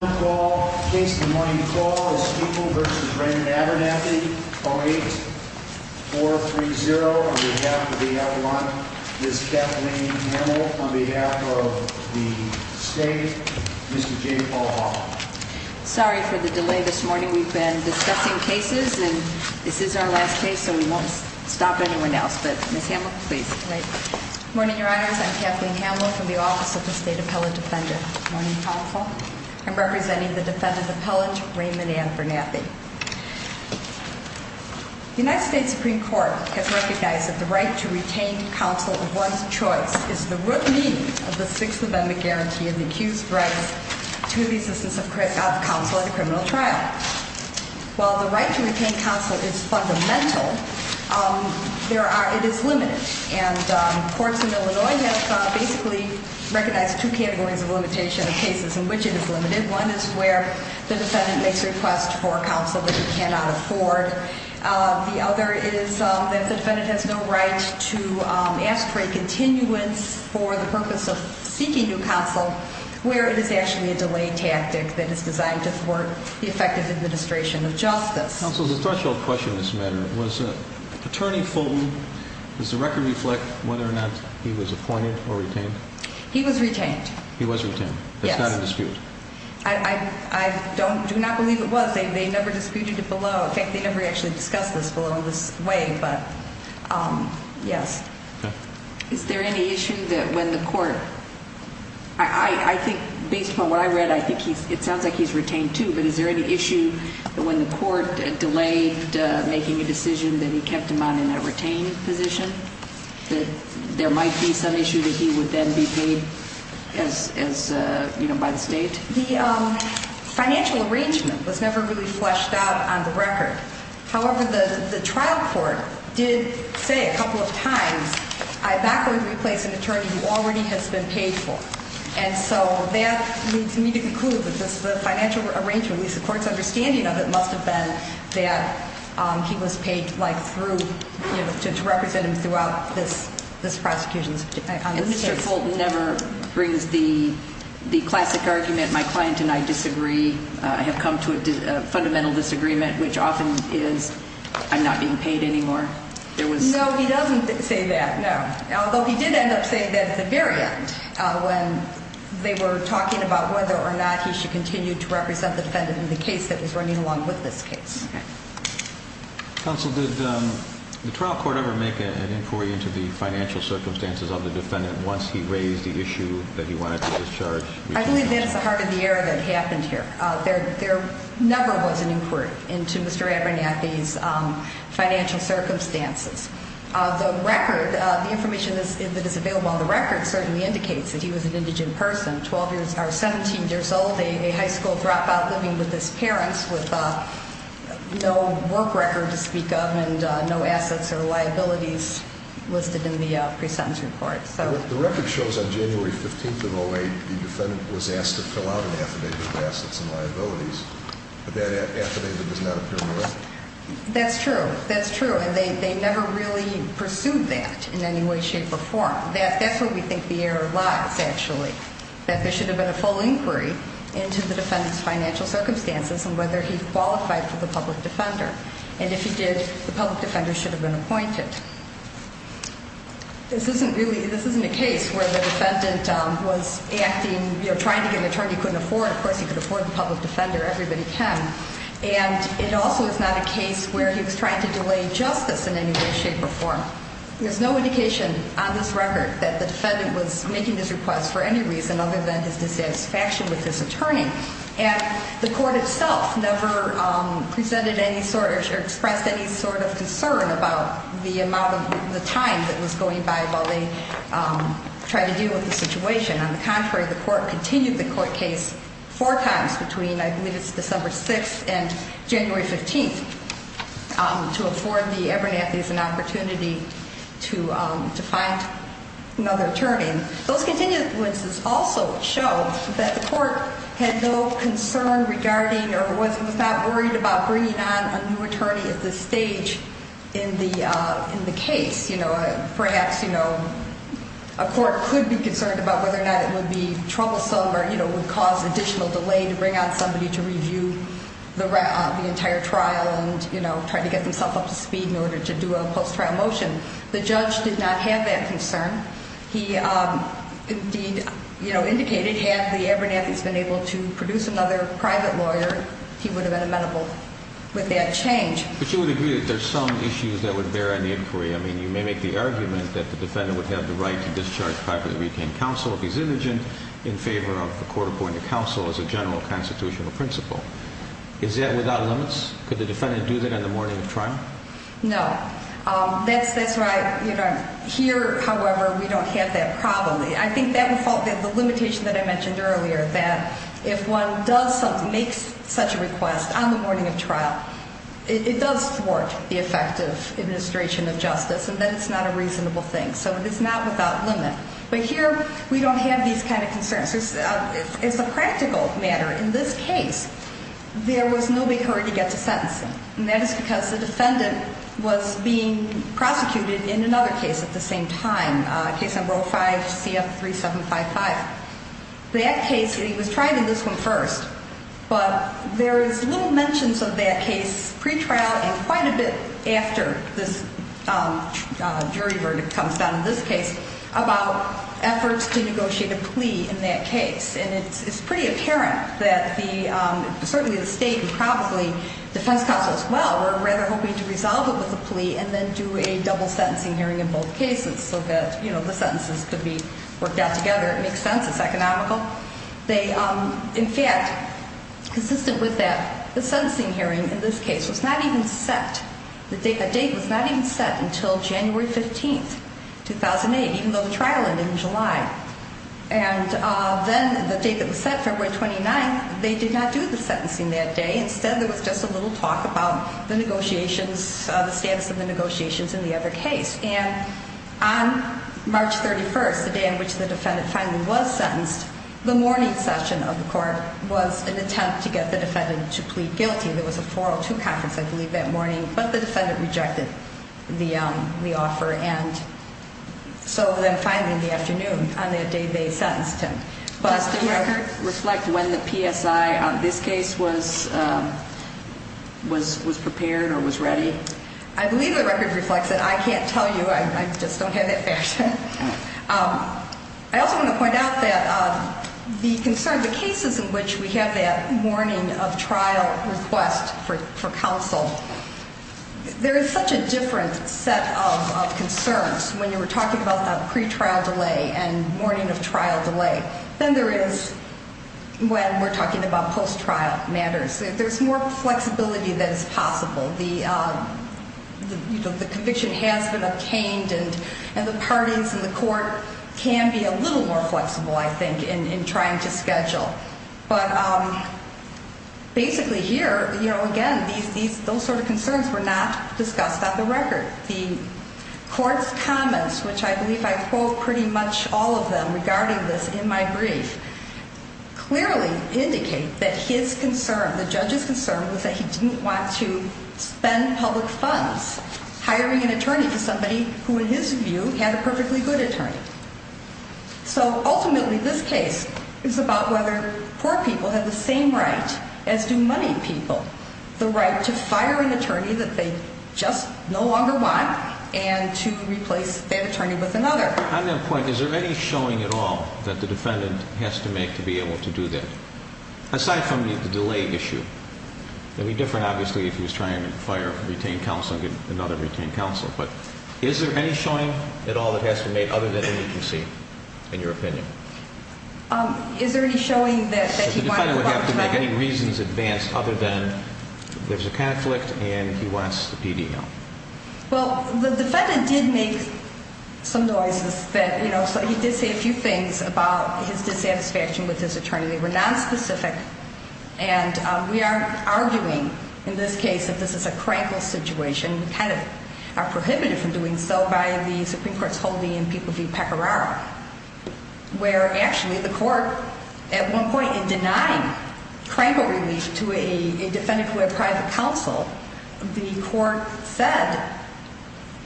08-430 on behalf of the L1, Ms. Kathleen Hamel on behalf of the state, Mr. J. Paul Hoffman. Sorry for the delay this morning. We've been discussing cases and this is our last case so we won't stop anyone else, but Ms. Hamel, please. Good morning, Your Honors. I'm Kathleen Hamel from the Office of the State Appellate Defendant. Good morning, Counsel. I'm representing the defendant appellate, Raymond Ann Abernathy. The United States Supreme Court has recognized that the right to retain counsel of one's choice is the root meaning of the Sixth Amendment guarantee of the accused's rights to the existence of counsel at a criminal trial. While the right to retain counsel is fundamental, it is limited. Courts in Illinois have basically recognized two categories of limitation of cases in which it is limited. One is where the defendant makes a request for counsel that he cannot afford. The other is that the defendant has no right to ask for a continuance for the purpose of seeking new counsel, where it is actually a delay tactic that is designed to thwart the effective administration of justice. Counsel, the threshold question in this matter, was Attorney Fulton, does the record reflect whether or not he was appointed or retained? He was retained. He was retained. Yes. That's not in dispute. I do not believe it was. They never disputed it below. In fact, they never actually discussed this below in this way, but yes. Okay. Is there any issue that when the court, I think based upon what I read, I think it sounds like he's retained too, but is there any issue that when the court delayed making a decision that he kept him on in that retained position, that there might be some issue that he would then be paid by the state? The financial arrangement was never really fleshed out on the record. However, the trial court did say a couple of times, I back would replace an attorney who already has been paid for. And so that leads me to conclude that the financial arrangement, at least the court's understanding of it, must have been that he was paid to represent him throughout this prosecution. And Mr. Fulton never brings the classic argument, my client and I disagree, I have come to a fundamental disagreement, which often is I'm not being paid anymore. No, he doesn't say that, no. Although he did end up saying that at the very end when they were talking about whether or not he should continue to represent the defendant in the case that was running along with this case. Okay. Counsel, did the trial court ever make an inquiry into the financial circumstances of the defendant once he raised the issue that he wanted to discharge? I believe that is the heart of the error that happened here. There never was an inquiry into Mr. Abernathy's financial circumstances. The record, the information that is available on the record certainly indicates that he was an indigent person, 17 years old, a high school dropout living with his parents with no work record to speak of and no assets or liabilities listed in the pre-sentence report. The record shows on January 15th of 08 the defendant was asked to fill out an affidavit of assets and liabilities, but that affidavit does not appear in the record. That's true. That's true. And they never really pursued that in any way, shape, or form. That's where we think the error lies, actually. That there should have been a full inquiry into the defendant's financial circumstances and whether he qualified for the public defender. And if he did, the public defender should have been appointed. This isn't really, this isn't a case where the defendant was acting, you know, trying to get an attorney he couldn't afford. Of course, he could afford the public defender. Everybody can. And it also is not a case where he was trying to delay justice in any way, shape, or form. There's no indication on this record that the defendant was making this request for any reason other than his dissatisfaction with his attorney. And the court itself never presented any sort or expressed any sort of concern about the amount of time that was going by while they tried to deal with the situation. On the contrary, the court continued the court case four times between, I believe it's December 6th and January 15th, to afford the Ebernethys an opportunity to find another attorney. Those continued instances also show that the court had no concern regarding or was not worried about bringing on a new attorney at this stage in the case. You know, perhaps, you know, a court could be concerned about whether or not it would be troublesome or, you know, would cause additional delay to bring on somebody to review the entire trial and, you know, try to get themselves up to speed in order to do a post-trial motion. The judge did not have that concern. He, indeed, you know, indicated had the Ebernethys been able to produce another private lawyer, he would have been amenable with that change. But you would agree that there's some issues that would bear on the inquiry. I mean, you may make the argument that the defendant would have the right to discharge privately retained counsel if he's indigent in favor of the court appointing counsel as a general constitutional principle. Is that without limits? Could the defendant do that on the morning of trial? No. That's right. You know, here, however, we don't have that problem. I think that would fall within the limitation that I mentioned earlier, that if one does make such a request on the morning of trial, it does thwart the effect of administration of justice, and then it's not a reasonable thing. So it is not without limit. But here, we don't have these kind of concerns. As a practical matter, in this case, there was no big hurry to get to sentencing, and that is because the defendant was being prosecuted in another case at the same time, case number 05-CF-3755. That case, he was tried in this one first, but there's little mentions of that case pre-trial and quite a bit after this jury verdict comes down in this case about efforts to negotiate a plea in that case. And it's pretty apparent that the, certainly the state and probably defense counsel as well, were rather hoping to resolve it with a plea and then do a double sentencing hearing in both cases so that, you know, the sentences could be worked out together. It makes sense. It's economical. They, in fact, consistent with that, the sentencing hearing in this case was not even set. The date was not even set until January 15th, 2008, even though the trial ended in July. And then the date that was set, February 29th, they did not do the sentencing that day. Instead, there was just a little talk about the negotiations, the status of the negotiations in the other case. And on March 31st, the day in which the defendant finally was sentenced, the morning session of the court was an attempt to get the defendant to plead guilty. There was a 402 conference, I believe, that morning, but the defendant rejected the offer. And so then finally in the afternoon on that day, they sentenced him. Does the record reflect when the PSI on this case was prepared or was ready? I believe the record reflects it. I can't tell you. I just don't have that fact. I also want to point out that the concern, the cases in which we have that morning of trial request for counsel, there is such a different set of concerns. When you were talking about the pretrial delay and morning of trial delay than there is when we're talking about post-trial matters. There's more flexibility that is possible. The conviction has been obtained, and the parties in the court can be a little more flexible, I think, in trying to schedule. But basically here, you know, again, those sort of concerns were not discussed on the record. The court's comments, which I believe I quote pretty much all of them regarding this in my brief, clearly indicate that his concern, the judge's concern, was that he didn't want to spend public funds hiring an attorney for somebody who, in his view, had a perfectly good attorney. So ultimately, this case is about whether poor people have the same right as do money people, the right to fire an attorney that they just no longer want and to replace that attorney with another. On that point, is there any showing at all that the defendant has to make to be able to do that? Aside from the delay issue. It would be different, obviously, if he was trying to fire a retained counsel and get another retained counsel. But is there any showing at all that has to be made other than an agency, in your opinion? Is there any showing that he wanted to go out of time? The defendant would have to make any reasons advance other than there's a conflict and he wants the PD help. Well, the defendant did make some noises that, you know, he did say a few things about his dissatisfaction with his attorney. They were nonspecific. And we are arguing in this case that this is a crankle situation. We kind of are prohibited from doing so by the Supreme Court's holding in People v. Pecoraro, where actually the court at one point in denying crankle relief to a defendant who had private counsel, the court said,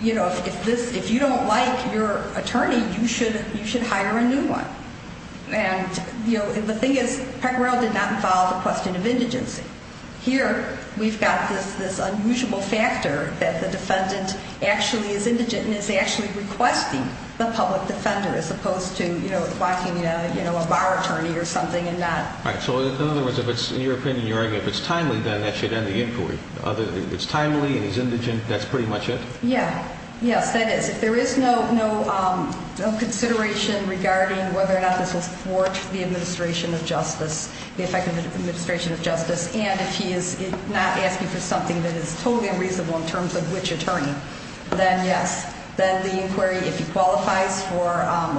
you know, if you don't like your attorney, you should hire a new one. And, you know, the thing is Pecoraro did not involve the question of indigency. Here we've got this unusual factor that the defendant actually is indigent and is actually requesting the public defender as opposed to, you know, blocking, you know, a bar attorney or something and not. All right. So in other words, if it's, in your opinion, you're arguing if it's timely, then that should end the inquiry. It's timely and he's indigent. That's pretty much it? Yeah. Yes, that is. There is no consideration regarding whether or not this will thwart the administration of justice, the effective administration of justice. And if he is not asking for something that is totally unreasonable in terms of which attorney, then yes. Then the inquiry, if he qualifies for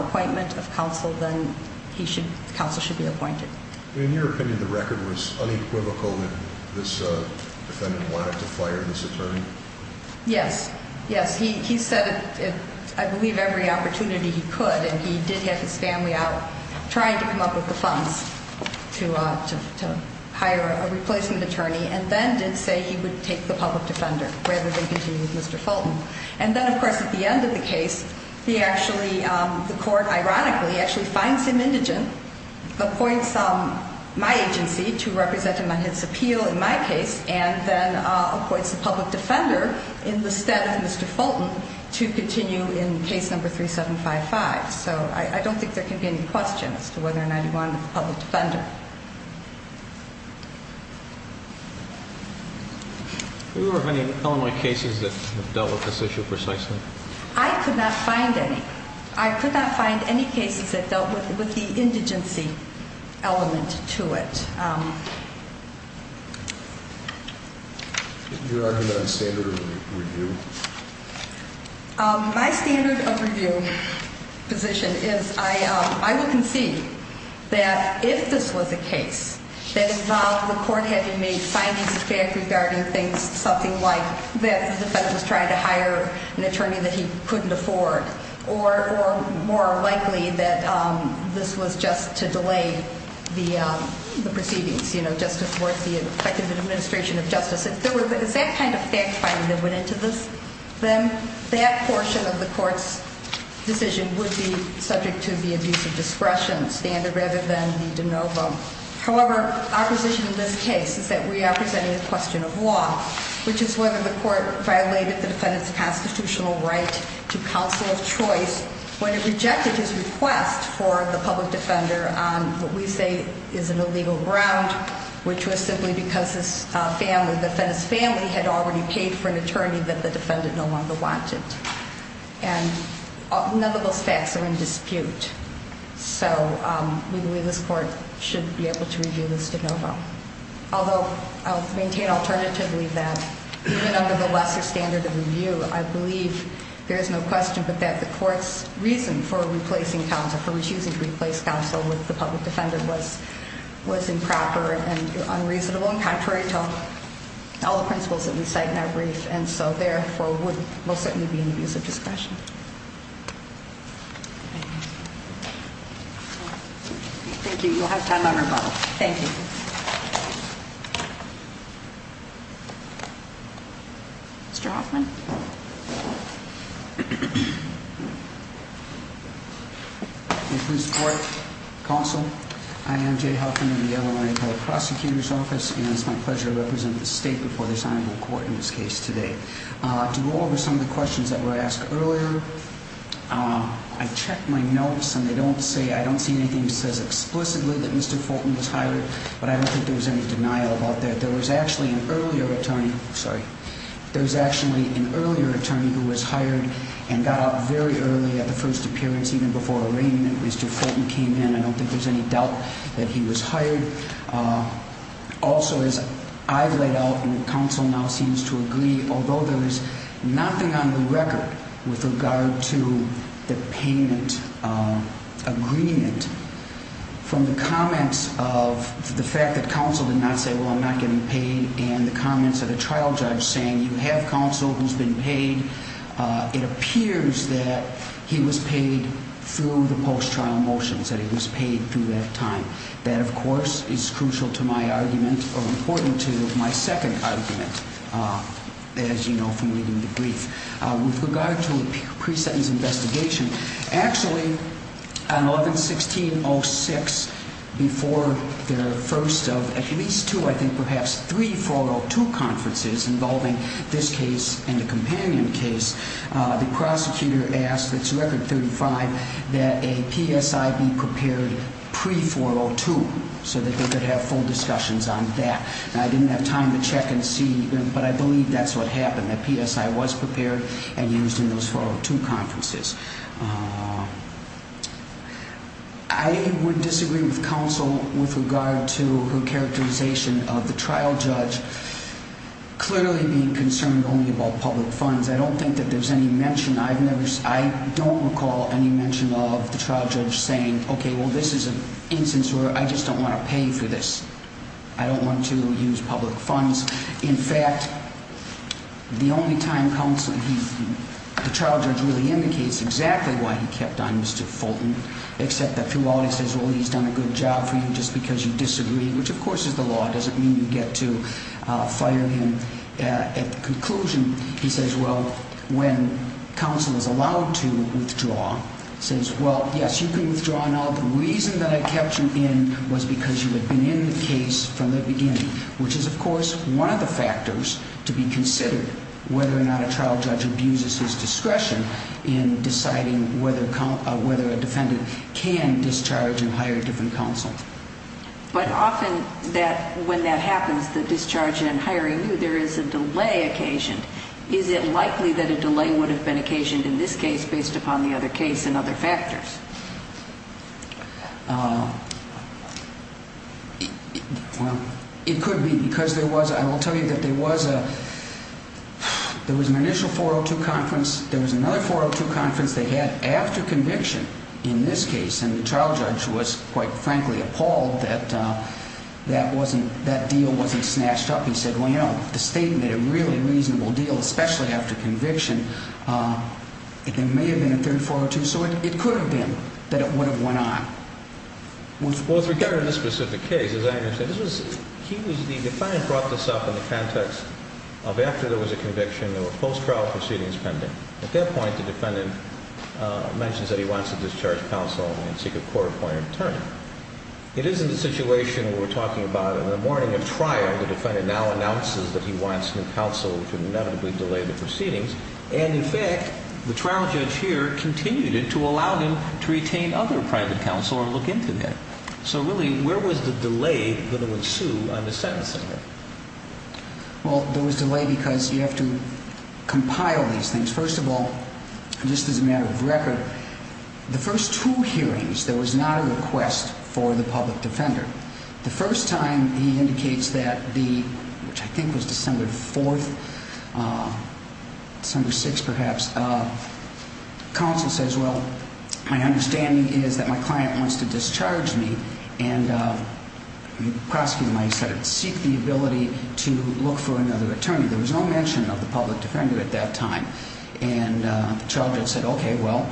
appointment of counsel, then the counsel should be appointed. In your opinion, the record was unequivocal that this defendant wanted to fire this attorney? Yes. Yes. He said at, I believe, every opportunity he could. And he did have his family out trying to come up with the funds to hire a replacement attorney and then did say he would take the public defender rather than continue with Mr. Fulton. And then, of course, at the end of the case, he actually, the court, ironically, actually finds him indigent, appoints my agency to represent him on his appeal in my case, and then appoints the public defender in the stead of Mr. Fulton to continue in case number 3755. So I don't think there can be any question as to whether or not he wanted the public defender. Do you remember any preliminary cases that dealt with this issue precisely? I could not find any. I could not find any cases that dealt with the indigency element to it. Your argument on standard of review? My standard of review position is I would concede that if this was a case that involved the court having made findings of fact regarding things, something like that the defendant was trying to hire an attorney that he couldn't afford or more likely that this was just to delay the proceedings, you know, just before the effective administration of justice. If there was that kind of fact finding that went into this, then that portion of the court's decision would be subject to the abuse of discretion standard rather than the de novo. However, our position in this case is that we are presenting a question of law, which is whether the court violated the defendant's constitutional right to counsel of choice when it rejected his request for the public defender on what we say is an illegal ground, which was simply because the defendant's family had already paid for an attorney that the defendant no longer wanted. And none of those facts are in dispute. So we believe this court should be able to review this de novo. Although I'll maintain alternatively that even under the lesser standard of review, I believe there is no question but that the court's reason for replacing counsel, for refusing to replace counsel with the public defender was improper and unreasonable and contrary to all the principles that we cite in our brief. And so therefore would most certainly be an abuse of discretion. Thank you. You'll have time on rebuttal. Thank you. Mr. Hoffman. Mr. Court, counsel, I am Jay Hoffman of the Illinois Appellate Prosecutor's Office, and it's my pleasure to represent the state before this honorable court in this case today. To go over some of the questions that were asked earlier, I checked my notes, and I don't see anything that says explicitly that Mr. Fulton was hired, but I don't think there was any denial about that. There was actually an earlier attorney who was hired and got out very early at the first appearance, even before arraignment, Mr. Fulton came in. I don't think there's any doubt that he was hired. Also, as I've laid out and counsel now seems to agree, although there is nothing on the record with regard to the payment agreement, from the comments of the fact that counsel did not say, well, I'm not getting paid, and the comments of the trial judge saying you have counsel who's been paid, it appears that he was paid through the post-trial motions, that he was paid through that time. That, of course, is crucial to my argument, or important to my second argument, as you know from reading the brief. With regard to a pre-sentence investigation, actually on 11-1606, before the first of at least two, I think perhaps three, 402 conferences involving this case and the companion case, the prosecutor asked that to Record 35 that a PSI be prepared pre-402 so that they could have full discussions on that. Now, I didn't have time to check and see, but I believe that's what happened, that PSI was prepared and used in those 402 conferences. I would disagree with counsel with regard to her characterization of the trial judge clearly being concerned only about public funds. I don't think that there's any mention. I don't recall any mention of the trial judge saying, okay, well, this is an instance where I just don't want to pay for this. I don't want to use public funds. In fact, the only time the trial judge really indicates exactly why he kept on Mr. Fulton, except that through all he says, well, he's done a good job for you just because you disagreed, which, of course, is the law. It doesn't mean you get to fire him. At the conclusion, he says, well, when counsel is allowed to withdraw, says, well, yes, you can withdraw now. The reason that I kept you in was because you had been in the case from the beginning, which is, of course, one of the factors to be considered whether or not a trial judge abuses his discretion in deciding whether a defendant can discharge and hire a different counsel. But often when that happens, the discharge and hiring, there is a delay occasioned. Is it likely that a delay would have been occasioned in this case based upon the other case and other factors? Well, it could be because there was, I will tell you that there was an initial 402 conference. There was another 402 conference they had after conviction in this case, and the trial judge was, quite frankly, appalled that that deal wasn't snatched up. He said, well, you know, if the state made a really reasonable deal, especially after conviction, it may have been a third 402. So it could have been that it would have went on. Well, with regard to this specific case, as I understand, the defendant brought this up in the context of after there was a conviction, there were post-trial proceedings pending. At that point, the defendant mentions that he wants to discharge counsel and seek a court-appointed attorney. It is in the situation we were talking about in the morning of trial, the defendant now announces that he wants new counsel to inevitably delay the proceedings, and, in fact, the trial judge here continued to allow him to retain other private counsel or look into that. So, really, where was the delay that would ensue on the sentencing here? Well, there was delay because you have to compile these things. First of all, just as a matter of record, the first two hearings, there was not a request for the public defender. The first time he indicates that the, which I think was December 4th, December 6th perhaps, counsel says, well, my understanding is that my client wants to discharge me, and the prosecutor might seek the ability to look for another attorney. There was no mention of the public defender at that time, and the trial judge said, okay, well,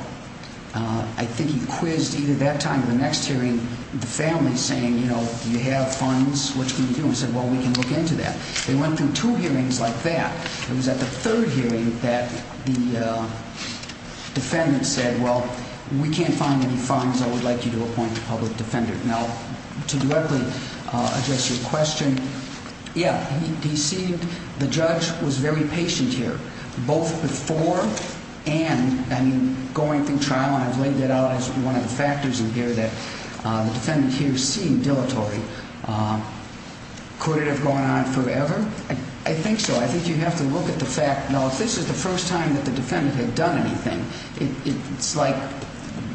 I think he quizzed either that time or the next hearing the family, saying, you know, do you have funds? What can we do? He said, well, we can look into that. They went through two hearings like that. It was at the third hearing that the defendant said, well, we can't find any funds. I would like you to appoint a public defender. Now, to directly address your question, yeah, he seemed, the judge was very patient here, both before and, I mean, going through trial, and I've laid that out as one of the factors in here, that the defendant here seemed dilatory. Could it have gone on forever? I think so. I think you have to look at the fact, now, if this is the first time that the defendant had done anything, it's like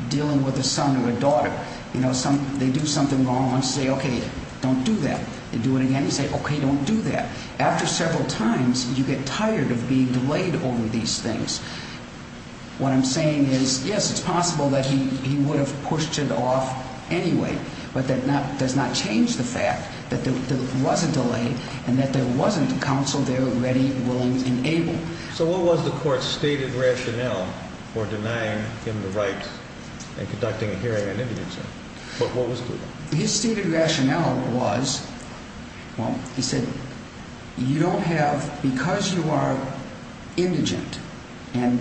dealing with a son or a daughter. You know, they do something wrong once, they say, okay, don't do that. They do it again, they say, okay, don't do that. After several times, you get tired of being delayed over these things. What I'm saying is, yes, it's possible that he would have pushed it off anyway, but that does not change the fact that there was a delay and that there wasn't a counsel there ready, willing, and able. So what was the court's stated rationale for denying him the right and conducting a hearing on indigent, sir? What was it? His stated rationale was, well, he said, you don't have, because you are indigent, and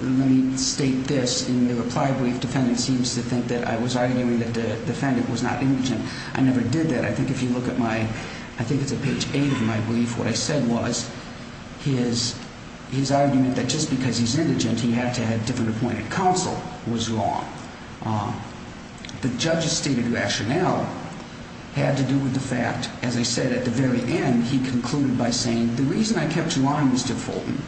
let me state this in the reply brief, defendant seems to think that I was arguing that the defendant was not indigent. I never did that. I think if you look at my, I think it's at page 8 of my brief, what I said was his argument that just because he's indigent he had to have different appointed counsel was wrong. The judge's stated rationale had to do with the fact, as I said at the very end, he concluded by saying the reason I kept you on, Mr. Fulton,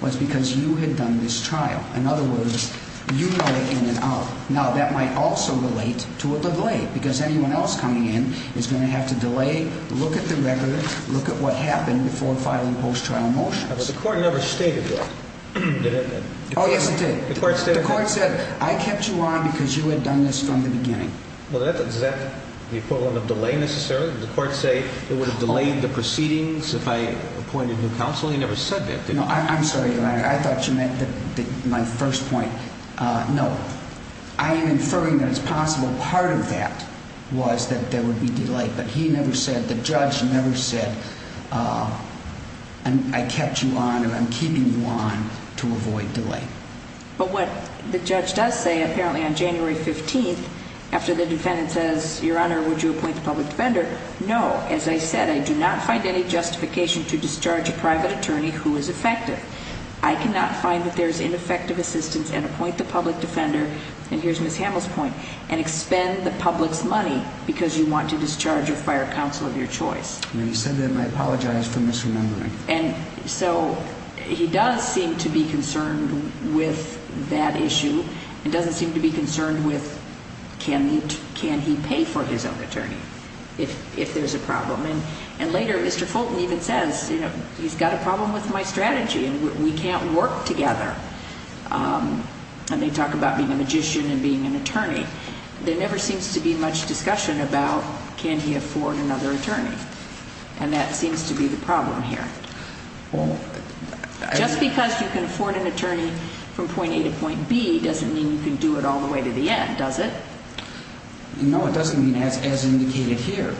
was because you had done this trial. In other words, you know in and out. Now, that might also relate to a delay, because anyone else coming in is going to have to delay, look at the record, look at what happened before filing post-trial motions. But the court never stated that, did it? Oh, yes, it did. The court stated that? The court said I kept you on because you had done this from the beginning. Well, is that the equivalent of delay necessarily? Did the court say it would have delayed the proceedings if I appointed new counsel? He never said that, did he? No. I'm sorry, Your Honor. I thought you meant my first point. No. I am inferring that it's possible part of that was that there would be delay, but he never said, the judge never said, I kept you on and I'm keeping you on to avoid delay. But what the judge does say, apparently on January 15th, after the defendant says, Your Honor, would you appoint the public defender? No. As I said, I do not find any justification to discharge a private attorney who is effective. I cannot find that there is ineffective assistance and appoint the public defender, and here's Ms. Hamill's point, and expend the public's money because you want to discharge a fire counsel of your choice. When you said that, I apologize for misremembering. And so he does seem to be concerned with that issue and doesn't seem to be concerned with can he pay for his own attorney if there's a problem. And later, Mr. Fulton even says, you know, he's got a problem with my strategy and we can't work together. And they talk about being a magician and being an attorney. There never seems to be much discussion about can he afford another attorney, and that seems to be the problem here. Just because you can afford an attorney from point A to point B doesn't mean you can do it all the way to the end, does it? No, it doesn't mean as indicated here.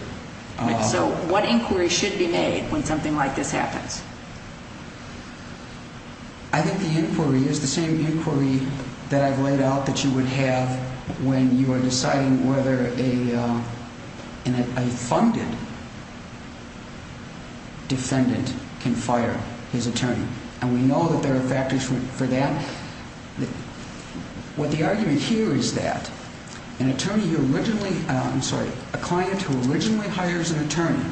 So what inquiry should be made when something like this happens? I think the inquiry is the same inquiry that I've laid out that you would have when you are deciding whether a funded defendant can fire his attorney. And we know that there are factors for that. What the argument here is that an attorney who originally, I'm sorry, a client who originally hires an attorney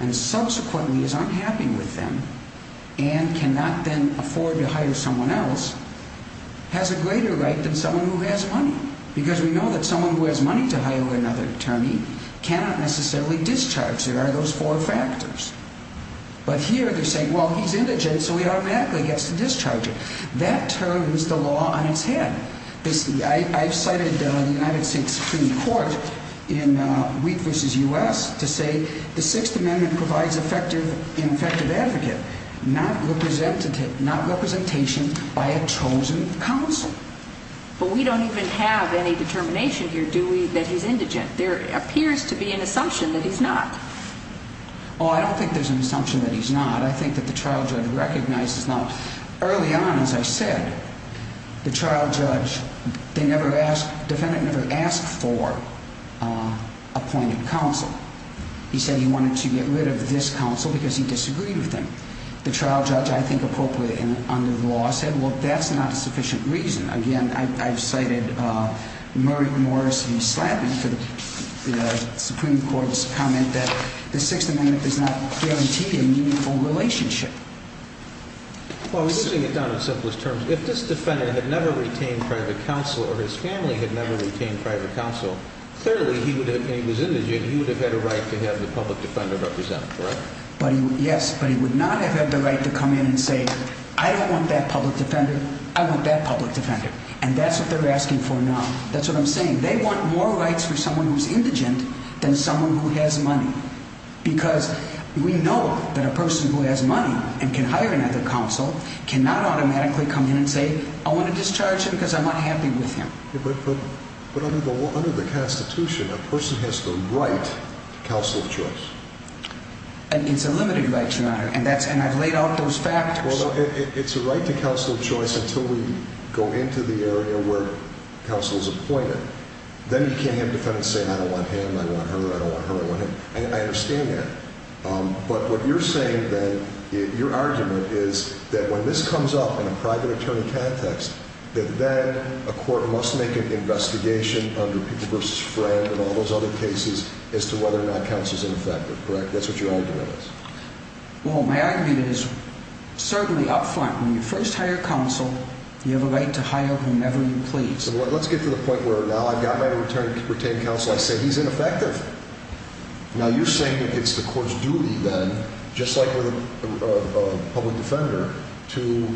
and subsequently is unhappy with them and cannot then afford to hire someone else has a greater right than someone who has money. Because we know that someone who has money to hire another attorney cannot necessarily discharge. There are those four factors. But here they're saying, well, he's indigent so he automatically gets to discharge him. That turns the law on its head. I've cited the United States Supreme Court in Wheat v. U.S. to say the Sixth Amendment provides an effective advocate, not representation by a chosen counsel. But we don't even have any determination here, do we, that he's indigent? There appears to be an assumption that he's not. Oh, I don't think there's an assumption that he's not. I think that the trial judge recognizes not. Early on, as I said, the trial judge, they never asked, defendant never asked for appointed counsel. He said he wanted to get rid of this counsel because he disagreed with him. The trial judge, I think appropriately and under the law, said, well, that's not a sufficient reason. Again, I've cited Murray Morris v. Slatton for the Supreme Court's comment that the Sixth Amendment does not guarantee a meaningful relationship. Well, we're using it down in simplest terms. If this defendant had never retained private counsel or his family had never retained private counsel, clearly he would have, and he was indigent, he would have had a right to have the public defender represented, correct? Yes, but he would not have had the right to come in and say, I don't want that public defender, I want that public defender. And that's what they're asking for now. That's what I'm saying. They want more rights for someone who's indigent than someone who has money. Because we know that a person who has money and can hire another counsel cannot automatically come in and say, I want to discharge him because I'm not happy with him. But under the Constitution, a person has the right to counsel of choice. And it's a limited right, Your Honor, and I've laid out those factors. Well, it's a right to counsel of choice until we go into the area where counsel is appointed. Then you can't have defendants say, I don't want him, I don't want her, I don't want her, I don't want him. I understand that. But what you're saying then, your argument is that when this comes up in a private attorney context, that then a court must make an investigation under people versus friend and all those other cases as to whether or not counsel is ineffective, correct? That's what your argument is. Well, my argument is certainly up front. When you first hire counsel, you have a right to hire whomever you please. So let's get to the point where now I've got my retained counsel, I say he's ineffective. Now, you're saying that it's the court's duty then, just like with a public defender, to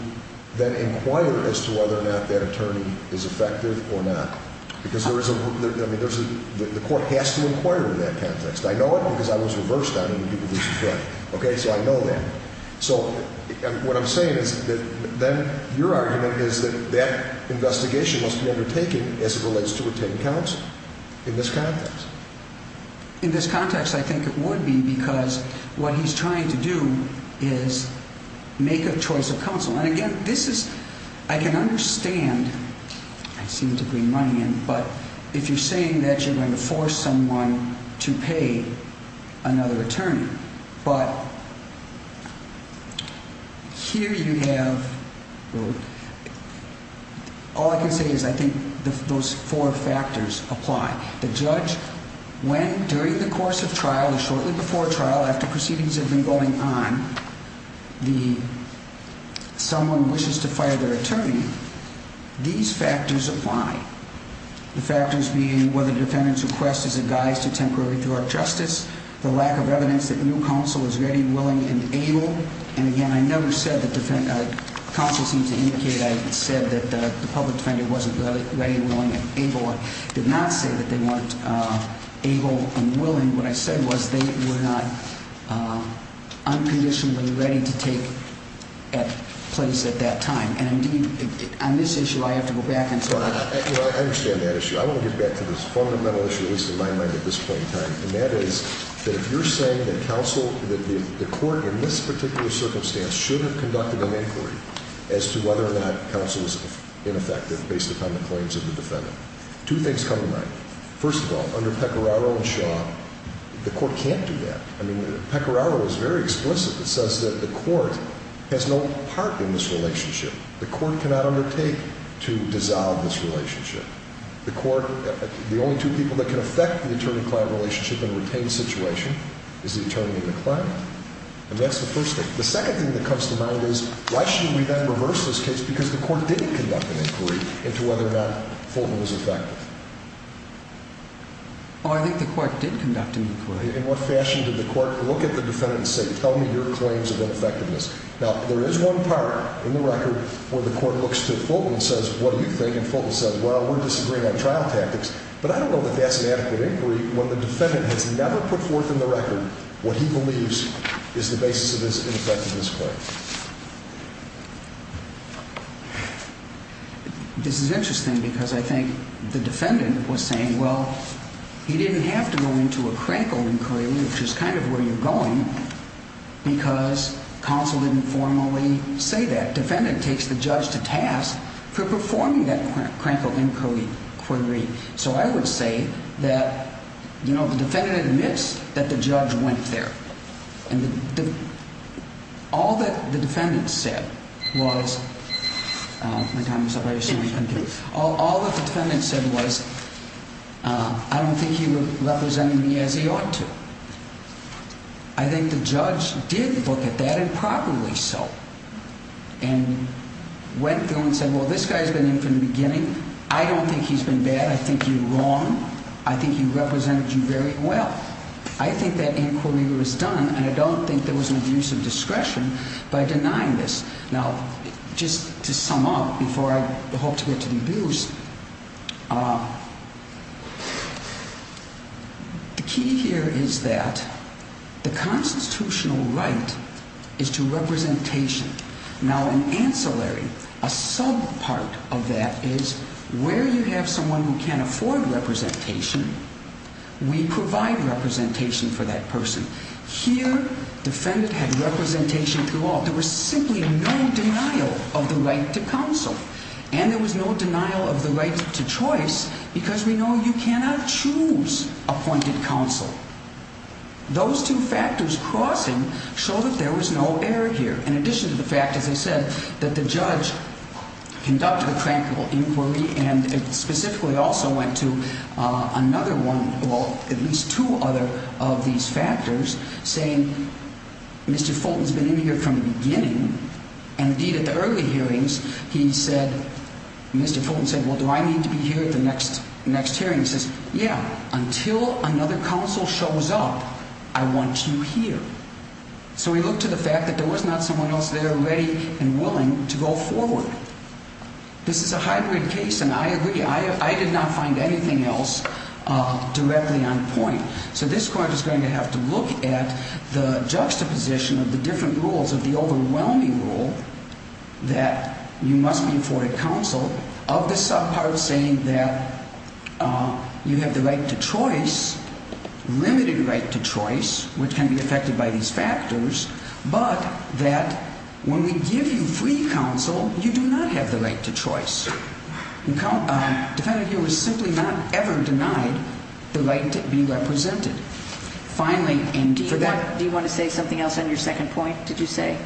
then inquire as to whether or not that attorney is effective or not. Because the court has to inquire in that context. I know it because I was reversed on it in people versus friend. So I know that. So what I'm saying is that then your argument is that that investigation must be undertaken as it relates to retained counsel in this context. In this context, I think it would be because what he's trying to do is make a choice of counsel. And, again, this is – I can understand – I seem to bring money in – but if you're saying that you're going to force someone to pay another attorney. But here you have – well, all I can say is I think those four factors apply. The judge, when, during the course of trial or shortly before trial, after proceedings have been going on, the – someone wishes to fire their attorney, these factors apply. The factors being whether the defendant's request is a guise to temporary thwart justice, the lack of evidence that new counsel is ready, willing, and able. And, again, I never said that – counsel seems to indicate I said that the public defender wasn't ready, willing, and able. I did not say that they weren't able and willing. What I said was they were not unconditionally ready to take place at that time. And, indeed, on this issue, I have to go back and say – Well, I understand that issue. I want to get back to this fundamental issue, at least in my mind, at this point in time. And that is that if you're saying that counsel – that the court in this particular circumstance should have conducted an inquiry as to whether or not counsel was ineffective based upon the claims of the defendant, two things come to mind. First of all, under Pecoraro and Shaw, the court can't do that. I mean, Pecoraro is very explicit. It says that the court has no part in this relationship. The court cannot undertake to dissolve this relationship. The court – the only two people that can affect the attorney-client relationship in a retained situation is the attorney and the client. And that's the first thing. The second thing that comes to mind is why should we then reverse this case because the court didn't conduct an inquiry into whether or not Fulton was effective? Oh, I think the court did conduct an inquiry. In what fashion did the court look at the defendant and say, tell me your claims of ineffectiveness? Now, there is one part in the record where the court looks to Fulton and says, what do you think? And Fulton says, well, we're disagreeing on trial tactics. But I don't know that that's an adequate inquiry when the defendant has never put forth in the record what he believes is the basis of his ineffectiveness claim. This is interesting because I think the defendant was saying, well, he didn't have to go into a crankle inquiry, which is kind of where you're going, because counsel didn't formally say that. Defendant takes the judge to task for performing that crankle inquiry. So I would say that, you know, the defendant admits that the judge went there. And all that the defendant said was, all that the defendant said was, I don't think he represented me as he ought to. I think the judge did look at that and properly so. And went through and said, well, this guy's been in from the beginning. I don't think he's been bad. I think you're wrong. I think he represented you very well. I think that inquiry was done, and I don't think there was an abuse of discretion by denying this. Now, just to sum up before I hope to get to the abuse, the key here is that the constitutional right is to representation. Now, in ancillary, a sub part of that is where you have someone who can't afford representation, we provide representation for that person. Here, defendant had representation throughout. There was simply no denial of the right to counsel. And there was no denial of the right to choice because we know you cannot choose appointed counsel. Those two factors crossing show that there was no error here. In addition to the fact, as I said, that the judge conducted a tranquil inquiry and specifically also went to another one, well, at least two other of these factors, saying Mr. Fulton's been in here from the beginning. And, indeed, at the early hearings, he said, Mr. Fulton said, well, do I need to be here at the next hearing? He says, yeah, until another counsel shows up, I want you here. So we look to the fact that there was not someone else there ready and willing to go forward. This is a hybrid case, and I agree. I did not find anything else directly on point. So this court is going to have to look at the juxtaposition of the different rules, of the overwhelming rule that you must be afforded counsel, of the subpart saying that you have the right to choice, limited right to choice, which can be affected by these factors, but that when we give you free counsel, you do not have the right to choice. The defendant here was simply not ever denied the right to be represented. Finally, indeed, for that – Do you want to say something else on your second point, did you say?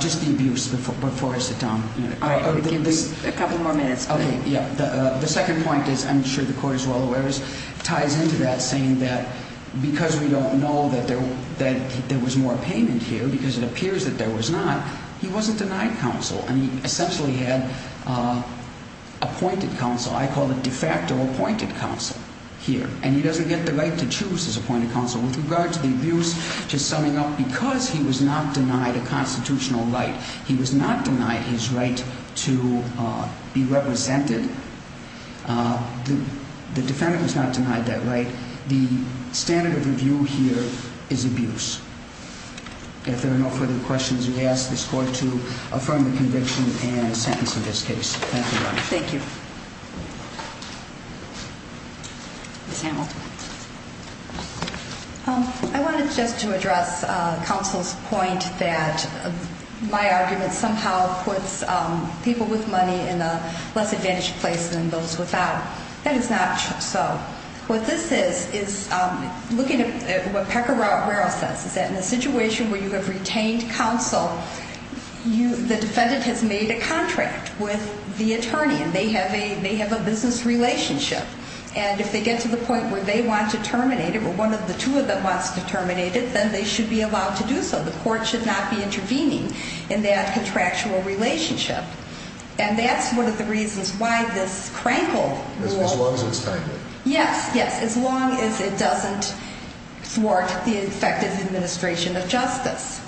Just the abuse before I sit down. All right. Give me a couple more minutes, please. The second point is, I'm sure the court is well aware, ties into that saying that because we don't know that there was more payment here, because it appears that there was not, he wasn't denied counsel. And he essentially had appointed counsel. I call it de facto appointed counsel here. And he doesn't get the right to choose his appointed counsel. With regard to the abuse, just summing up, because he was not denied a constitutional right, he was not denied his right to be represented. The defendant was not denied that right. The standard of review here is abuse. If there are no further questions, we ask this court to affirm the conviction and sentence of this case. Thank you, Your Honor. Thank you. Ms. Hamilton. I wanted just to address counsel's point that my argument somehow puts people with money in a less advantaged place than those without. That is not so. What this is, is looking at what Pecoraro says, is that in a situation where you have retained counsel, the defendant has made a contract with the attorney. They have a business relationship. And if they get to the point where they want to terminate it, or one of the two of them wants to terminate it, then they should be allowed to do so. The court should not be intervening in that contractual relationship. And that's one of the reasons why this crankled law. As long as it's timely. Yes, yes. As long as it doesn't thwart the effective administration of justice.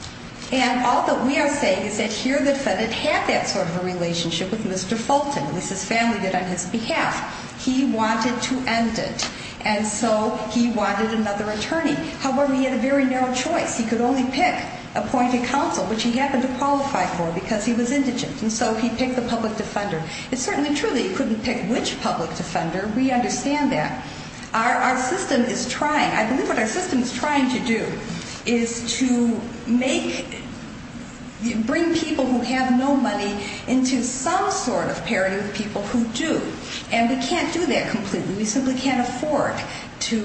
And all that we are saying is that here the defendant had that sort of a relationship with Mr. Fulton. At least his family did on his behalf. He wanted to end it. And so he wanted another attorney. However, he had a very narrow choice. He could only pick appointed counsel, which he happened to qualify for because he was indigent. And so he picked the public defender. It's certainly true that he couldn't pick which public defender. We understand that. Our system is trying, I believe what our system is trying to do, is to make, bring people who have no money into some sort of parity with people who do. And we can't do that completely. We simply can't afford to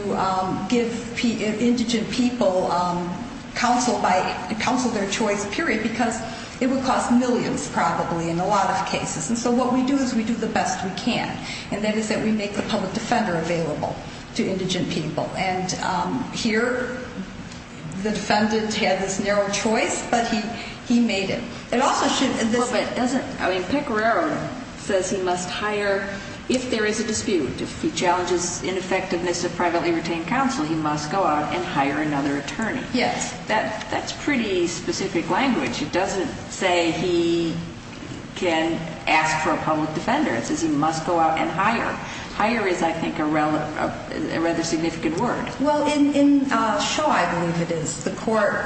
give indigent people counsel by counsel of their choice, period, because it would cost millions probably in a lot of cases. And so what we do is we do the best we can. And that is that we make the public defender available to indigent people. And here the defendant had this narrow choice, but he made it. Well, but doesn't, I mean, Pecoraro says he must hire, if there is a dispute, if he challenges ineffectiveness of privately retained counsel, he must go out and hire another attorney. Yes. That's pretty specific language. It doesn't say he can ask for a public defender. It says he must go out and hire. Hire is, I think, a rather significant word. Well, in Shaw, I believe it is, the court,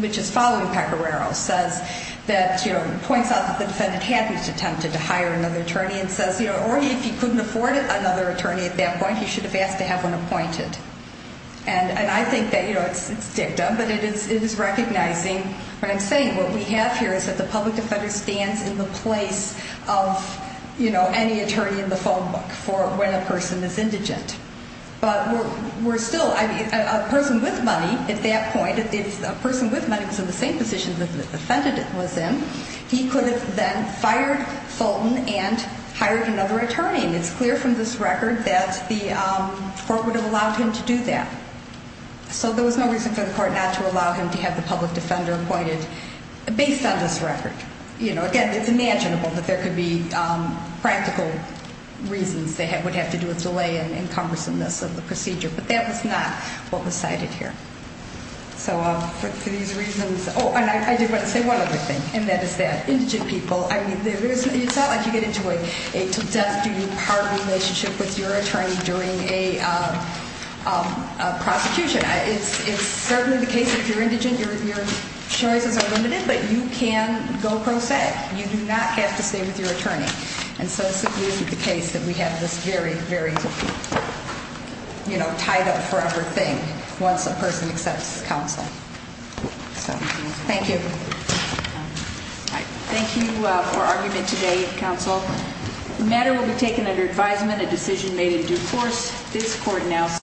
which is following Pecoraro, says that, you know, points out that the defendant had attempted to hire another attorney and says, you know, or if he couldn't afford another attorney at that point, he should have asked to have one appointed. And I think that, you know, it's dictum, but it is recognizing, what I'm saying, what we have here is that the public defender stands in the place of, you know, any attorney in the phone book for when a person is indigent. But we're still, I mean, a person with money at that point, if a person with money was in the same position that the defendant was in, he could have then fired Fulton and hired another attorney. And it's clear from this record that the court would have allowed him to do that. So there was no reason for the court not to allow him to have the public defender appointed based on this record. You know, again, it's imaginable that there could be practical reasons that would have to do with delay and cumbersomeness of the procedure. But that was not what was cited here. So for these reasons, oh, and I did want to say one other thing, and that is that indigent people, I mean, it's not like you get into a to death duty part relationship with your attorney during a prosecution. It's certainly the case that if you're indigent, your choices are limited. But you can go pro se. You do not have to stay with your attorney. And so it simply isn't the case that we have this very, very, you know, tied up forever thing once a person accepts counsel. So, thank you. Thank you for argument today, counsel. The matter will be taken under advisement, a decision made in due course. This court now.